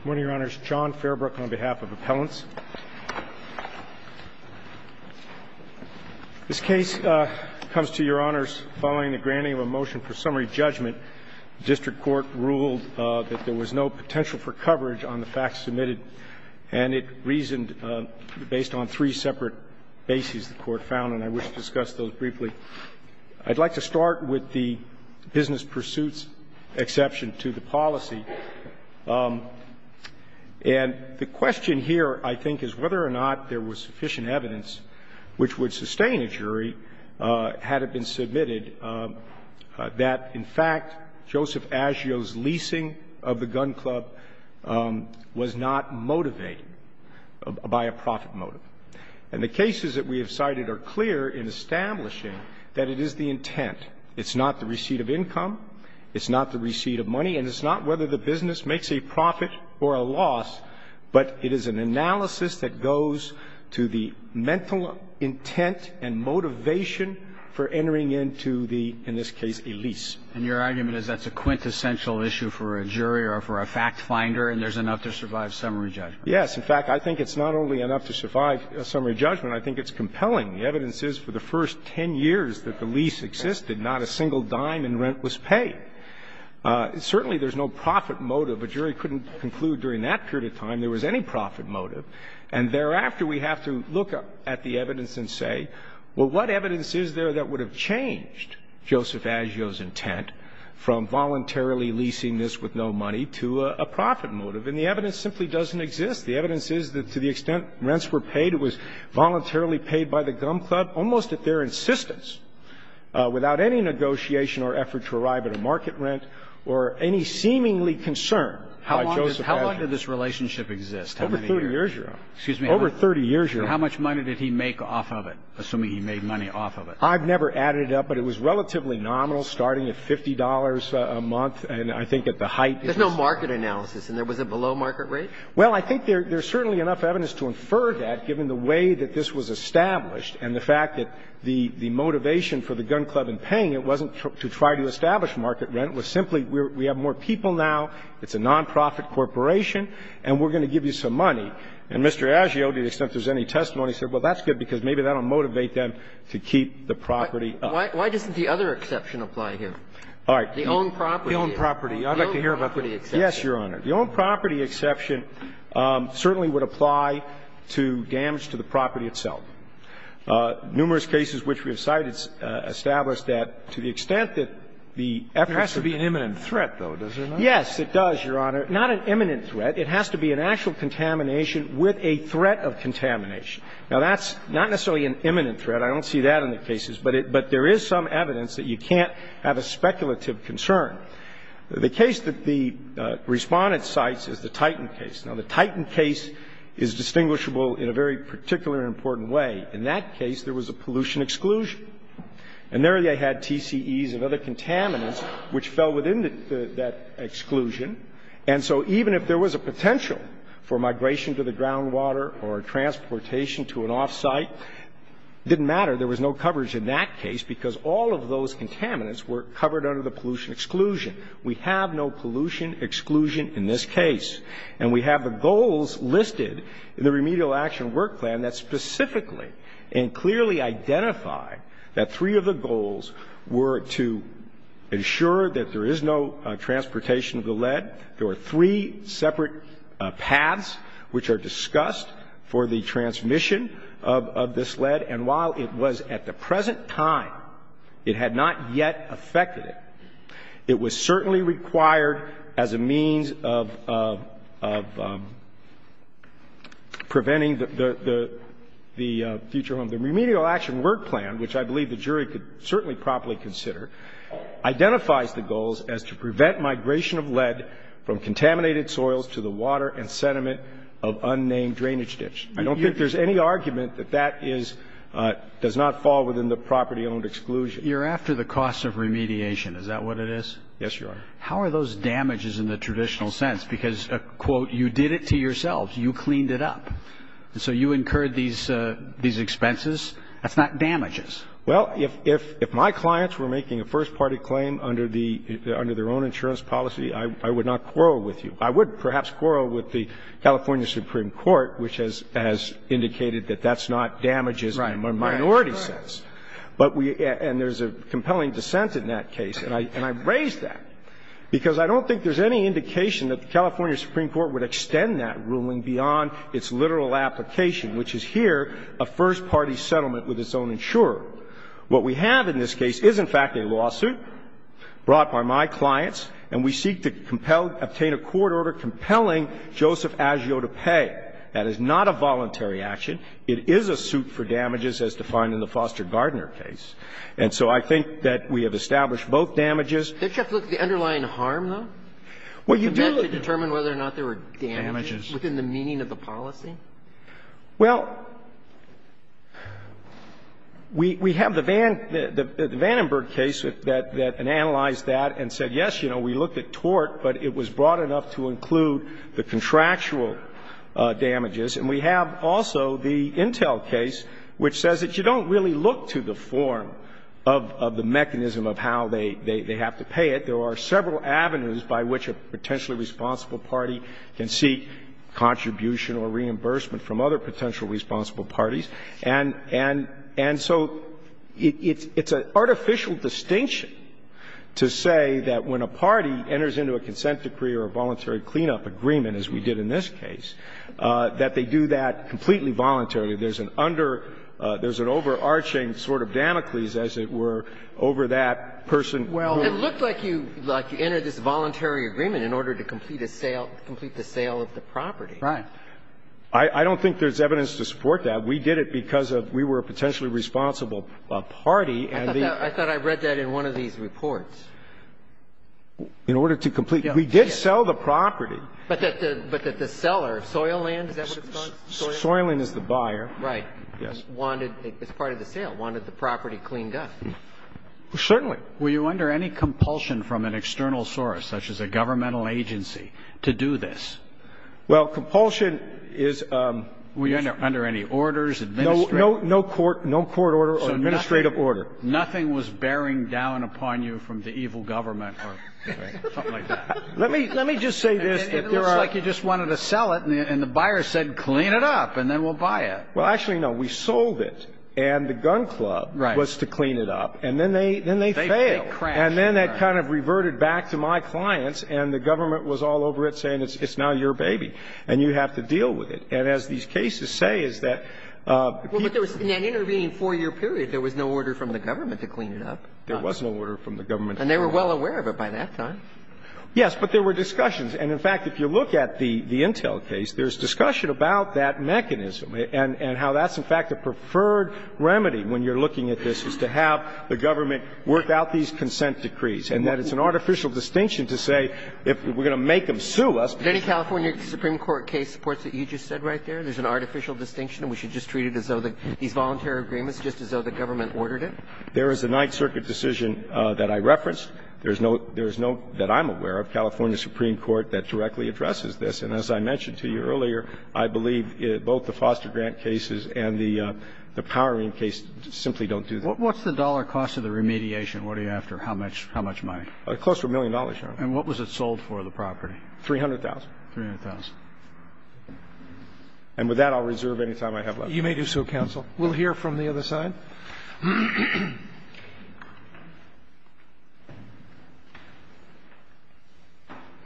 Good morning, Your Honors. John Fairbrook on behalf of Appellants. This case comes to Your Honors following the granting of a motion for summary judgment. The district court ruled that there was no potential for coverage on the facts submitted, and it reasoned based on three separate bases the court found, and I wish to discuss those briefly. I'd like to start with the business pursuits exception to the policy. And the question here, I think, is whether or not there was sufficient evidence which would sustain a jury had it been submitted that, in fact, Joseph Aggio's leasing of the gun club was not motivated by a profit motive. And the cases that we have cited are clear in establishing that it is the intent. It's not the receipt of income. It's not the receipt of money. And it's not whether the business makes a profit or a loss, but it is an analysis that goes to the mental intent and motivation for entering into the, in this case, a lease. And your argument is that's a quintessential issue for a jury or for a fact finder, and there's enough to survive summary judgment? Yes. In fact, I think it's not only enough to survive summary judgment. I think it's compelling. The evidence is for the first 10 years that the lease existed, not a single dime in rent was paid. Certainly, there's no profit motive. A jury couldn't conclude during that period of time there was any profit motive. And thereafter, we have to look at the evidence and say, well, what evidence is there that would have changed Joseph Aggio's intent from voluntarily leasing this with no money to a profit motive? And the evidence simply doesn't exist. The evidence is that to the extent rents were paid, it was voluntarily paid by the gum club, almost at their insistence, without any negotiation or effort to arrive at a market rent or any seemingly concern by Joseph Aggio. How long did this relationship exist? How many years? Over 30 years, Your Honor. Excuse me. Over 30 years, Your Honor. How much money did he make off of it, assuming he made money off of it? I've never added it up, but it was relatively nominal, starting at $50 a month and I think at the height. There's no market analysis. And there was a below market rate? Well, I think there's certainly enough evidence to infer that, given the way that this was established and the fact that the motivation for the gum club in paying it wasn't to try to establish market rent. It was simply we have more people now, it's a nonprofit corporation, and we're going to give you some money. And Mr. Aggio, to the extent there's any testimony, said, well, that's good, because maybe that will motivate them to keep the property up. Why doesn't the other exception apply here? All right. The owned property. The owned property. I'd like to hear about the property exception. Yes, Your Honor. The owned property exception certainly would apply to damage to the property itself. Numerous cases which we have cited establish that to the extent that the efforts of the eminent threat, though, does it not? Yes, it does, Your Honor. Not an imminent threat. It has to be an actual contamination with a threat of contamination. Now, that's not necessarily an imminent threat. I don't see that in the cases. But there is some evidence that you can't have a speculative concern. The case that the Respondent cites is the Titan case. Now, the Titan case is distinguishable in a very particular and important way. In that case, there was a pollution exclusion. And there they had TCEs of other contaminants which fell within that exclusion. And so even if there was a potential for migration to the groundwater or transportation to an off-site, it didn't matter. There was no coverage in that case, because all of those contaminants were covered under the pollution exclusion. We have no pollution exclusion in this case. And we have the goals listed in the Remedial Action Work Plan that specifically and clearly identify that three of the goals were to ensure that there is no transportation of the lead. There were three separate paths which are discussed for the transmission of this lead. And while it was at the present time, it had not yet affected it, it was certainly required as a means of preventing the future home. The Remedial Action Work Plan, which I believe the jury could certainly properly consider, identifies the goals as to prevent migration of lead from contaminated soils to the water and sediment of unnamed drainage ditch. I don't think there's any argument that that does not fall within the property owned exclusion. You're after the cost of remediation. Is that what it is? Yes, Your Honor. How are those damages in the traditional sense? Because, quote, you did it to yourselves. You cleaned it up. And so you incurred these expenses. That's not damages. Well, if my clients were making a first-party claim under their own insurance policy, I would not quarrel with you. I would perhaps quarrel with the California Supreme Court, which has indicated that that's not damages in a minority sense. And there's a compelling dissent in that case. And I raise that because I don't think there's any indication that the California Supreme Court would extend that ruling beyond its literal application, which is here a first-party settlement with its own insurer. What we have in this case is, in fact, a lawsuit brought by my clients, and we seek to compel, obtain a court order compelling Joseph Azzio to pay. That is not a voluntary action. It is a suit for damages as defined in the Foster Gardner case. And so I think that we have established both damages. Don't you have to look at the underlying harm, though? Well, you do. To determine whether or not there were damages within the meaning of the policy? Well, we have the Vandenberg case that analyzed that and said, yes, you know, we looked at tort, but it was broad enough to include the contractual damages. And we have also the Intel case, which says that you don't really look to the form of the mechanism of how they have to pay it. There are several avenues by which a potentially responsible party can seek contribution or reimbursement from other potentially responsible parties. And so it's an artificial distinction to say that when a party enters into a consent decree or a voluntary cleanup agreement, as we did in this case, that they do that completely voluntarily. There's an under — there's an overarching sort of Damocles, as it were, over that person who — Well, it looked like you — like you entered this voluntary agreement in order to complete a sale, complete the sale of the property. Right. I don't think there's evidence to support that. We did it because we were a potentially responsible party, and the — I thought I read that in one of these reports. In order to complete — we did sell the property. But that the seller, Soiland, is that what it's called? Soiland is the buyer. Right. Yes. Wanted — as part of the sale, wanted the property cleaned up. Certainly. Were you under any compulsion from an external source, such as a governmental agency, to do this? Well, compulsion is — Were you under any orders, administrative? No, no court — no court order or administrative order. Nothing was bearing down upon you from the evil government or something like that? Let me — let me just say this. It looks like you just wanted to sell it, and the buyer said, clean it up, and then we'll buy it. Well, actually, no. We sold it, and the gun club was to clean it up. Right. And then they — then they failed. They crashed. And then that kind of reverted back to my clients, and the government was all over it, saying, it's now your baby, and you have to deal with it. And as these cases say, is that — Well, but there was — in that intervening 4-year period, there was no order from the government to clean it up. There was no order from the government to clean it up. And they were well aware of it by that time. Yes, but there were discussions. And, in fact, if you look at the — the Intel case, there's discussion about that mechanism and — and how that's, in fact, the preferred remedy when you're looking at this, is to have the government work out these consent decrees, and that it's an artificial distinction to say, if we're going to make them sue us — Did any California Supreme Court case support what you just said right there, there's an artificial distinction, and we should just treat it as though these voluntary agreements, just as though the government ordered it? There is a Ninth Circuit decision that I referenced. There's no — there's no, that I'm aware of, California Supreme Court that directly addresses this. And as I mentioned to you earlier, I believe both the foster grant cases and the powering case simply don't do that. What's the dollar cost of the remediation? What are you after? How much — how much money? Close to a million dollars, Your Honor. And what was it sold for, the property? $300,000. $300,000. And with that, I'll reserve any time I have left. You may do so, counsel. We'll hear from the other side.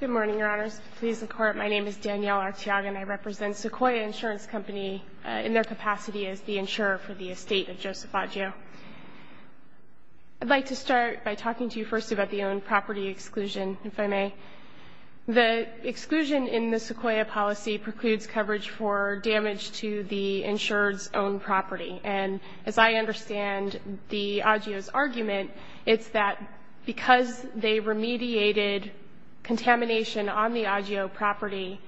Good morning, Your Honors. Please, the Court. My name is Danielle Arteaga, and I represent Sequoia Insurance Company in their capacity as the insurer for the estate of Joseph Baggio. I'd like to start by talking to you first about the owned property exclusion, if I may. The exclusion in the Sequoia policy precludes coverage for damage to the insurer's owned property. And as I understand the AGIO's argument, it's that because they remediated contamination on the AGIO property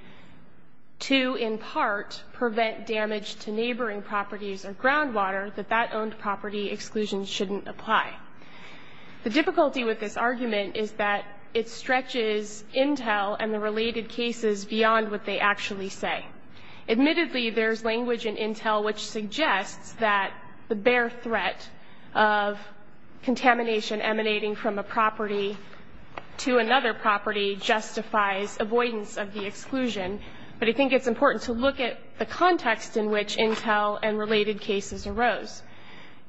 to, in part, prevent damage to neighboring properties or groundwater, that that owned property exclusion shouldn't apply. The difficulty with this argument is that it stretches intel and the related cases beyond what they actually say. Admittedly, there's language in intel which suggests that the bare threat of contamination emanating from a property to another property justifies avoidance of the exclusion. But I think it's important to look at the context in which intel and related cases arose.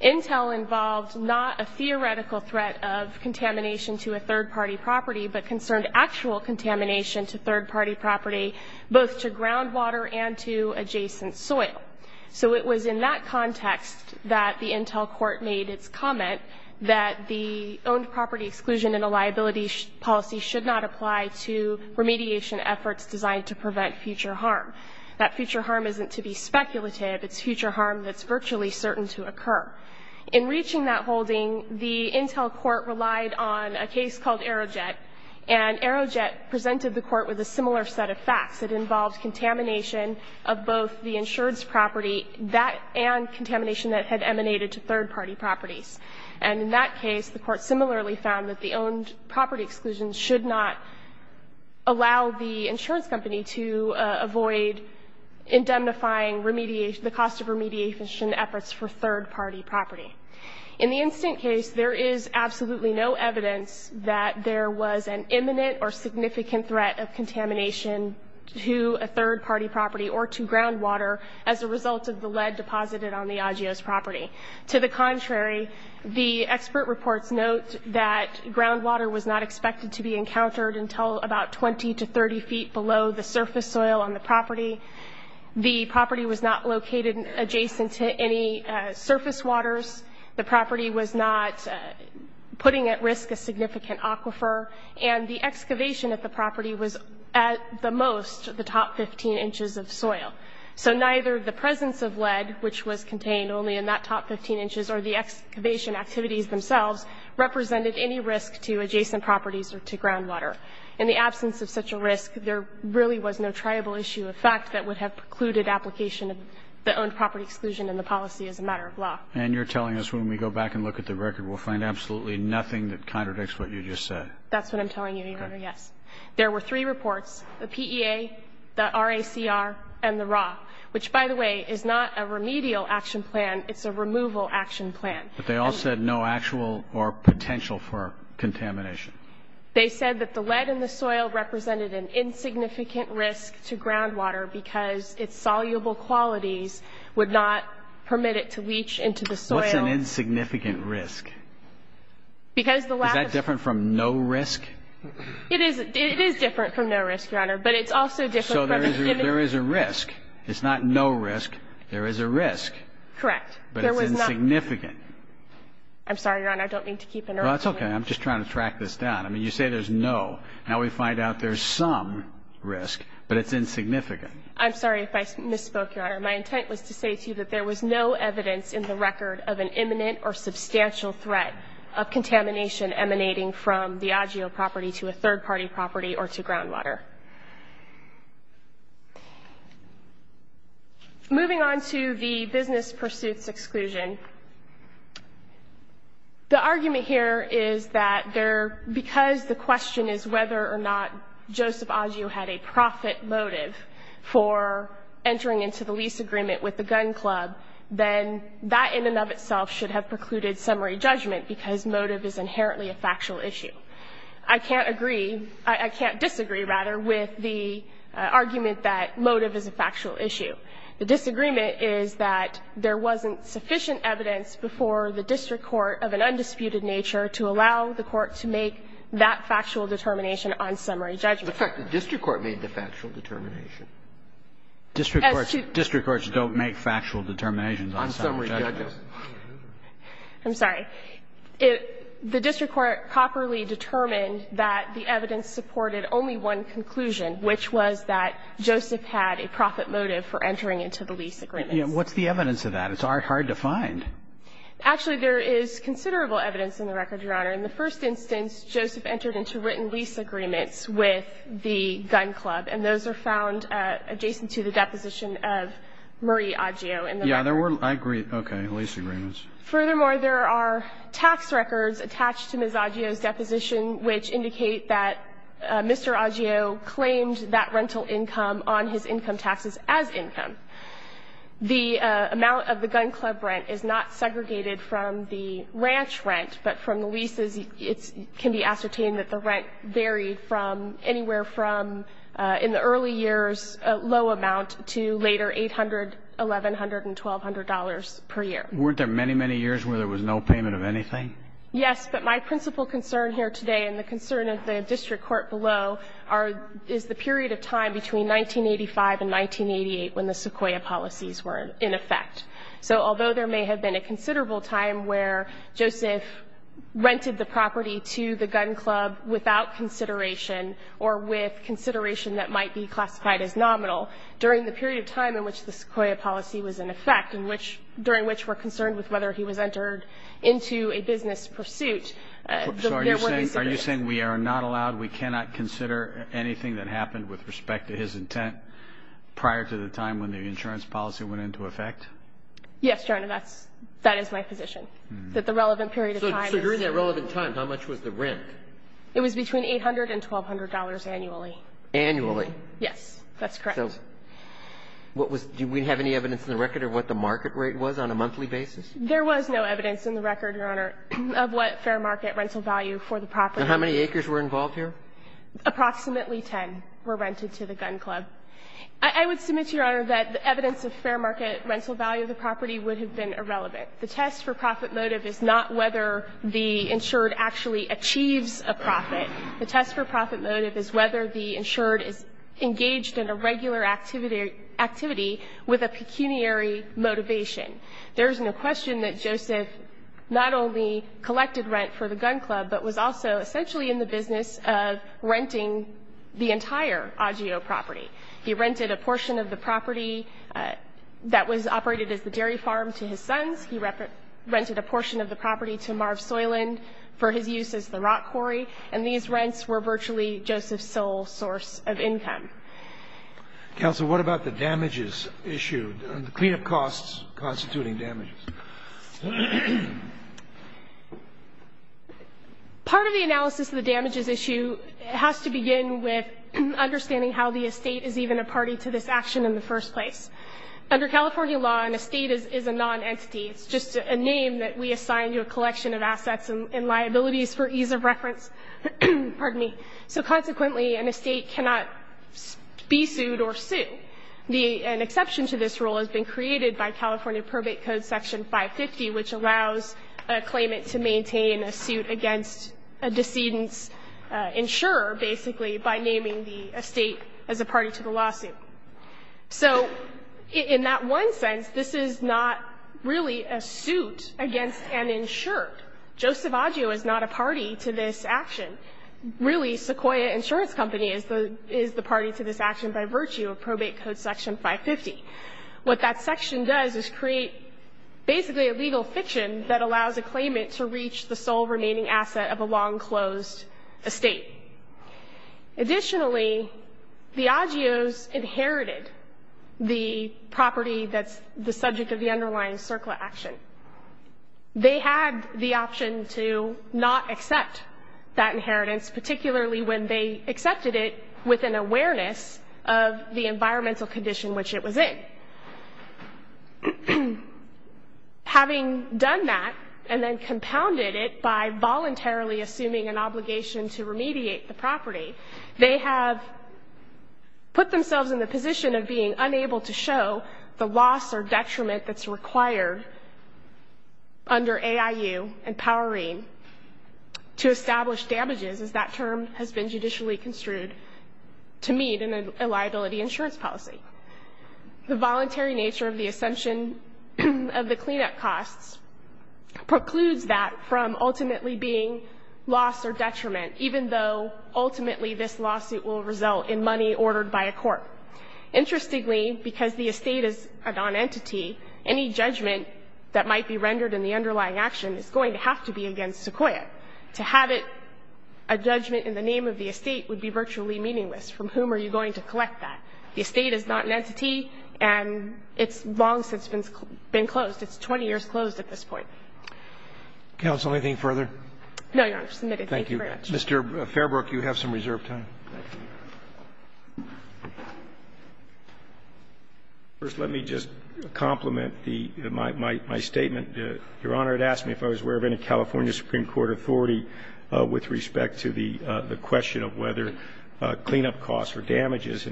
Intel involved not a theoretical threat of contamination to a third-party property, but concerned actual contamination to third-party property, both to groundwater and to adjacent soil. So it was in that context that the intel court made its comment that the owned property exclusion in a liability policy should not apply to remediation efforts designed to prevent future harm. That future harm isn't to be speculative. It's future harm that's virtually certain to occur. In reaching that holding, the intel court relied on a case called Aerojet. And Aerojet presented the court with a similar set of facts. It involved contamination of both the insurance property, that and contamination that had emanated to third-party properties. And in that case, the court similarly found that the owned property exclusion should not allow the insurance company to avoid indemnifying the cost of remediation efforts for third-party property. In the instant case, there is absolutely no evidence that there was an imminent or significant threat of contamination to a third-party property or to groundwater as a result of the lead deposited on the AGO's property. To the contrary, the expert reports note that groundwater was not expected to be encountered until about 20 to 30 feet below the surface soil on the property. The property was not located adjacent to any surface waters. The property was not putting at risk a significant aquifer. And the excavation at the property was, at the most, the top 15 inches of soil. So neither the presence of lead, which was contained only in that top 15 inches, or the excavation activities themselves represented any risk to adjacent properties or to groundwater. In the absence of such a risk, there really was no triable issue of fact that would have precluded application of the owned property exclusion in the policy as a matter of law. And you're telling us when we go back and look at the record, we'll find absolutely nothing that contradicts what you just said? That's what I'm telling you, Your Honor, yes. Okay. There were three reports, the PEA, the RACR, and the RAW, which, by the way, is not a remedial action plan. It's a removal action plan. But they all said no actual or potential for contamination. They said that the lead in the soil represented an insignificant risk to groundwater because its soluble qualities would not permit it to leach into the soil. What's an insignificant risk? Because the lack of... Is that different from no risk? It is different from no risk, Your Honor, but it's also different from... So there is a risk. It's not no risk. There is a risk. Correct. But it's insignificant. I'm sorry, Your Honor. I don't mean to keep... Well, that's okay. I'm just trying to track this down. I mean, you say there's no. Now we find out there's some risk, but it's insignificant. I'm sorry if I misspoke, Your Honor. My intent was to say to you that there was no evidence in the record of an imminent or substantial threat of contamination emanating from the AGIO property to a third-party property or to groundwater. Moving on to the business pursuits exclusion, the argument here is that because the question is whether or not Joseph AGIO had a profit motive for entering into the lease agreement with the gun club, then that in and of itself should have precluded summary judgment because motive is inherently a factual issue. I can't agree. I can't disagree, rather, with the argument that motive is a factual issue. The disagreement is that there wasn't sufficient evidence before the district court of an undisputed nature to allow the court to make that factual determination on summary judgment. In fact, the district court made the factual determination. District courts don't make factual determinations on summary judgment. I'm sorry. The district court properly determined that the evidence supported only one conclusion, which was that Joseph had a profit motive for entering into the lease agreement. Yeah. What's the evidence of that? It's hard to find. Actually, there is considerable evidence in the record, Your Honor. In the first instance, Joseph entered into written lease agreements with the gun club, and those are found adjacent to the deposition of Marie AGIO in the record. I agree. Lease agreements. Furthermore, there are tax records attached to Ms. AGIO's deposition which indicate that Mr. AGIO claimed that rental income on his income taxes as income. The amount of the gun club rent is not segregated from the ranch rent, but from the leases, it can be ascertained that the rent varied from anywhere from in the early years a low amount to later $800, $1,100, and $1,200 per year. Weren't there many, many years where there was no payment of anything? Yes, but my principal concern here today and the concern of the district court below is the period of time between 1985 and 1988 when the Sequoia policies were in effect. So although there may have been a considerable time where Joseph rented the property to the gun club without consideration or with consideration that might be classified as nominal, during the period of time in which the Sequoia policy was in effect and during which we're concerned with whether he was entered into a business pursuit, there were no segregation. So are you saying we are not allowed, we cannot consider anything that happened with respect to his intent prior to the time when the insurance policy went into effect? Yes, Your Honor, that is my position, that the relevant period of time is. So during that relevant time, how much was the rent? It was between $800 and $1,200 annually. Annually? Yes, that's correct. Do we have any evidence in the record of what the market rate was on a monthly basis? There was no evidence in the record, Your Honor, of what fair market rental value for the property. And how many acres were involved here? Approximately 10 were rented to the gun club. I would submit, Your Honor, that the evidence of fair market rental value of the property would have been irrelevant. The test for profit motive is not whether the insured actually achieves a profit. The test for profit motive is whether the insured is engaged in a regular activity with a pecuniary motivation. There is no question that Joseph not only collected rent for the gun club, but was also essentially in the business of renting the entire Augeo property. He rented a portion of the property that was operated as the dairy farm to his sons. He rented a portion of the property to Marv Soyland for his use as the rock quarry. And these rents were virtually Joseph Soyl's source of income. Counsel, what about the damages issued and the cleanup costs constituting damages? Part of the analysis of the damages issue has to begin with understanding how the estate is even a party to this action in the first place. Under California law, an estate is a non-entity. It's just a name that we assign to a collection of assets and liabilities for ease of reference. Pardon me. So consequently, an estate cannot be sued or sue. An exception to this rule has been created by California Probate Code Section 550, which allows a claimant to maintain a suit against a decedent's insurer, basically, by naming the estate as a party to the lawsuit. So in that one sense, this is not really a suit against an insurer. Joseph Adgio is not a party to this action. Really, Sequoia Insurance Company is the party to this action by virtue of Probate Code Section 550. What that section does is create basically a legal fiction that allows a claimant to reach the sole remaining asset of a long-closed estate. Additionally, the Adgios inherited the property that's the subject of the underlying CERCLA action. They had the option to not accept that inheritance, particularly when they accepted it with an awareness of the environmental condition which it was in. Having done that and then compounded it by voluntarily assuming an obligation to remediate the property, they have put themselves in the position of being unable to show the loss or detriment that's required under AIU and Powering to establish damages as that term has been judicially construed to meet in a liability insurance policy. The voluntary nature of the ascension of the cleanup costs precludes that from ultimately being loss or detriment, even though ultimately this lawsuit will result in money ordered by a court. Interestingly, because the estate is a non-entity, any judgment that might be rendered in the underlying action is going to have to be against Sequoia. To have a judgment in the name of the estate would be virtually meaningless. From whom are you going to collect that? The estate is not an entity and it's long since been closed. It's 20 years closed at this point. Roberts. Counsel, anything further? No, Your Honor. I've submitted. Thank you. Mr. Fairbrook, you have some reserved time. First, let me just complement the my statement. Your Honor, it asked me if I was aware of any California supreme court authority with respect to the question of whether cleanup costs are damages.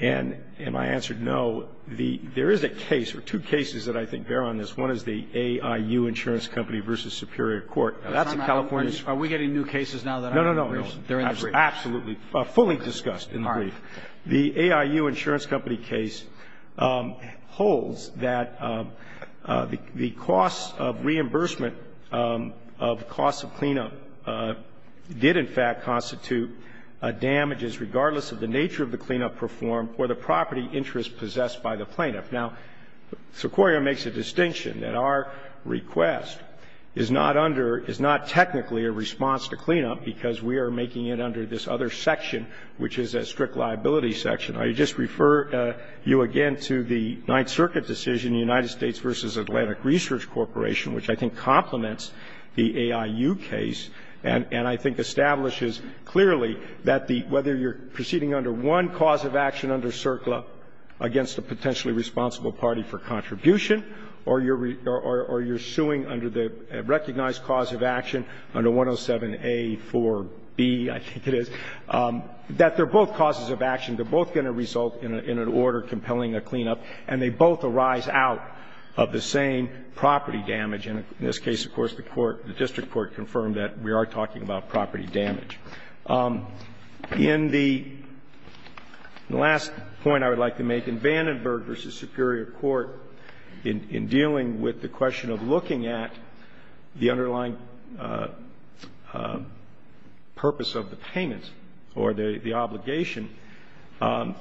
And my answer, no. There is a case or two cases that I think bear on this. One is the AIU Insurance Company v. Superior Court. Now, that's a California case. Are we getting new cases now that are in the briefs? No, no, no. They're in the briefs. Absolutely. Fully discussed in the brief. All right. The AIU Insurance Company case holds that the cost of reimbursement of costs of cleanup did, in fact, constitute damages regardless of the nature of the cleanup performed or the property interest possessed by the plaintiff. Now, Sequoia makes a distinction that our request is not under, is not technically a response to cleanup because we are making it under this other section, which is a strict liability section. I just refer you again to the Ninth Circuit decision, United States v. Atlantic Research Corporation, which I think complements the AIU case and I think establishes clearly that the, whether you're proceeding under one cause of action under CERCLA against a potentially responsible party for contribution or you're suing under the recognized cause of action under 107A, 4B, I think it is, that they're both causes of action, they're both going to result in an order compelling a cleanup, and they both arise out of the same property damage. And in this case, of course, the court, the district court confirmed that we are talking about property damage. In the last point I would like to make, in Vandenberg v. Superior Court, in dealing with the question of looking at the underlying purpose of the payment or the obligation, I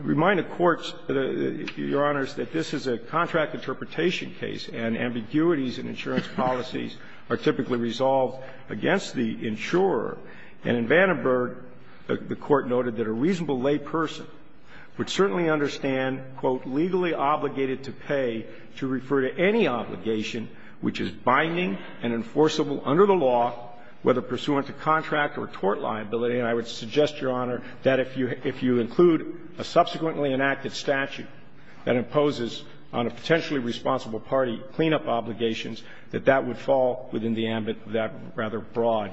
remind the courts, Your Honors, that this is a contract interpretation case and ambiguities in insurance policies are typically resolved against the insurer and in Vandenberg the court noted that a reasonable lay person would certainly understand, quote, legally obligated to pay to refer to any obligation which is binding and enforceable under the law, whether pursuant to contract or tort liability, and I would suggest, Your Honor, that if you include a subsequently enacted statute that imposes on a potentially responsible party cleanup obligations, that that would fall within the ambit of that rather broad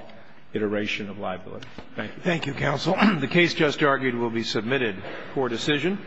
iteration of liability. Thank you. Thank you, counsel. The case just argued will be submitted for decision.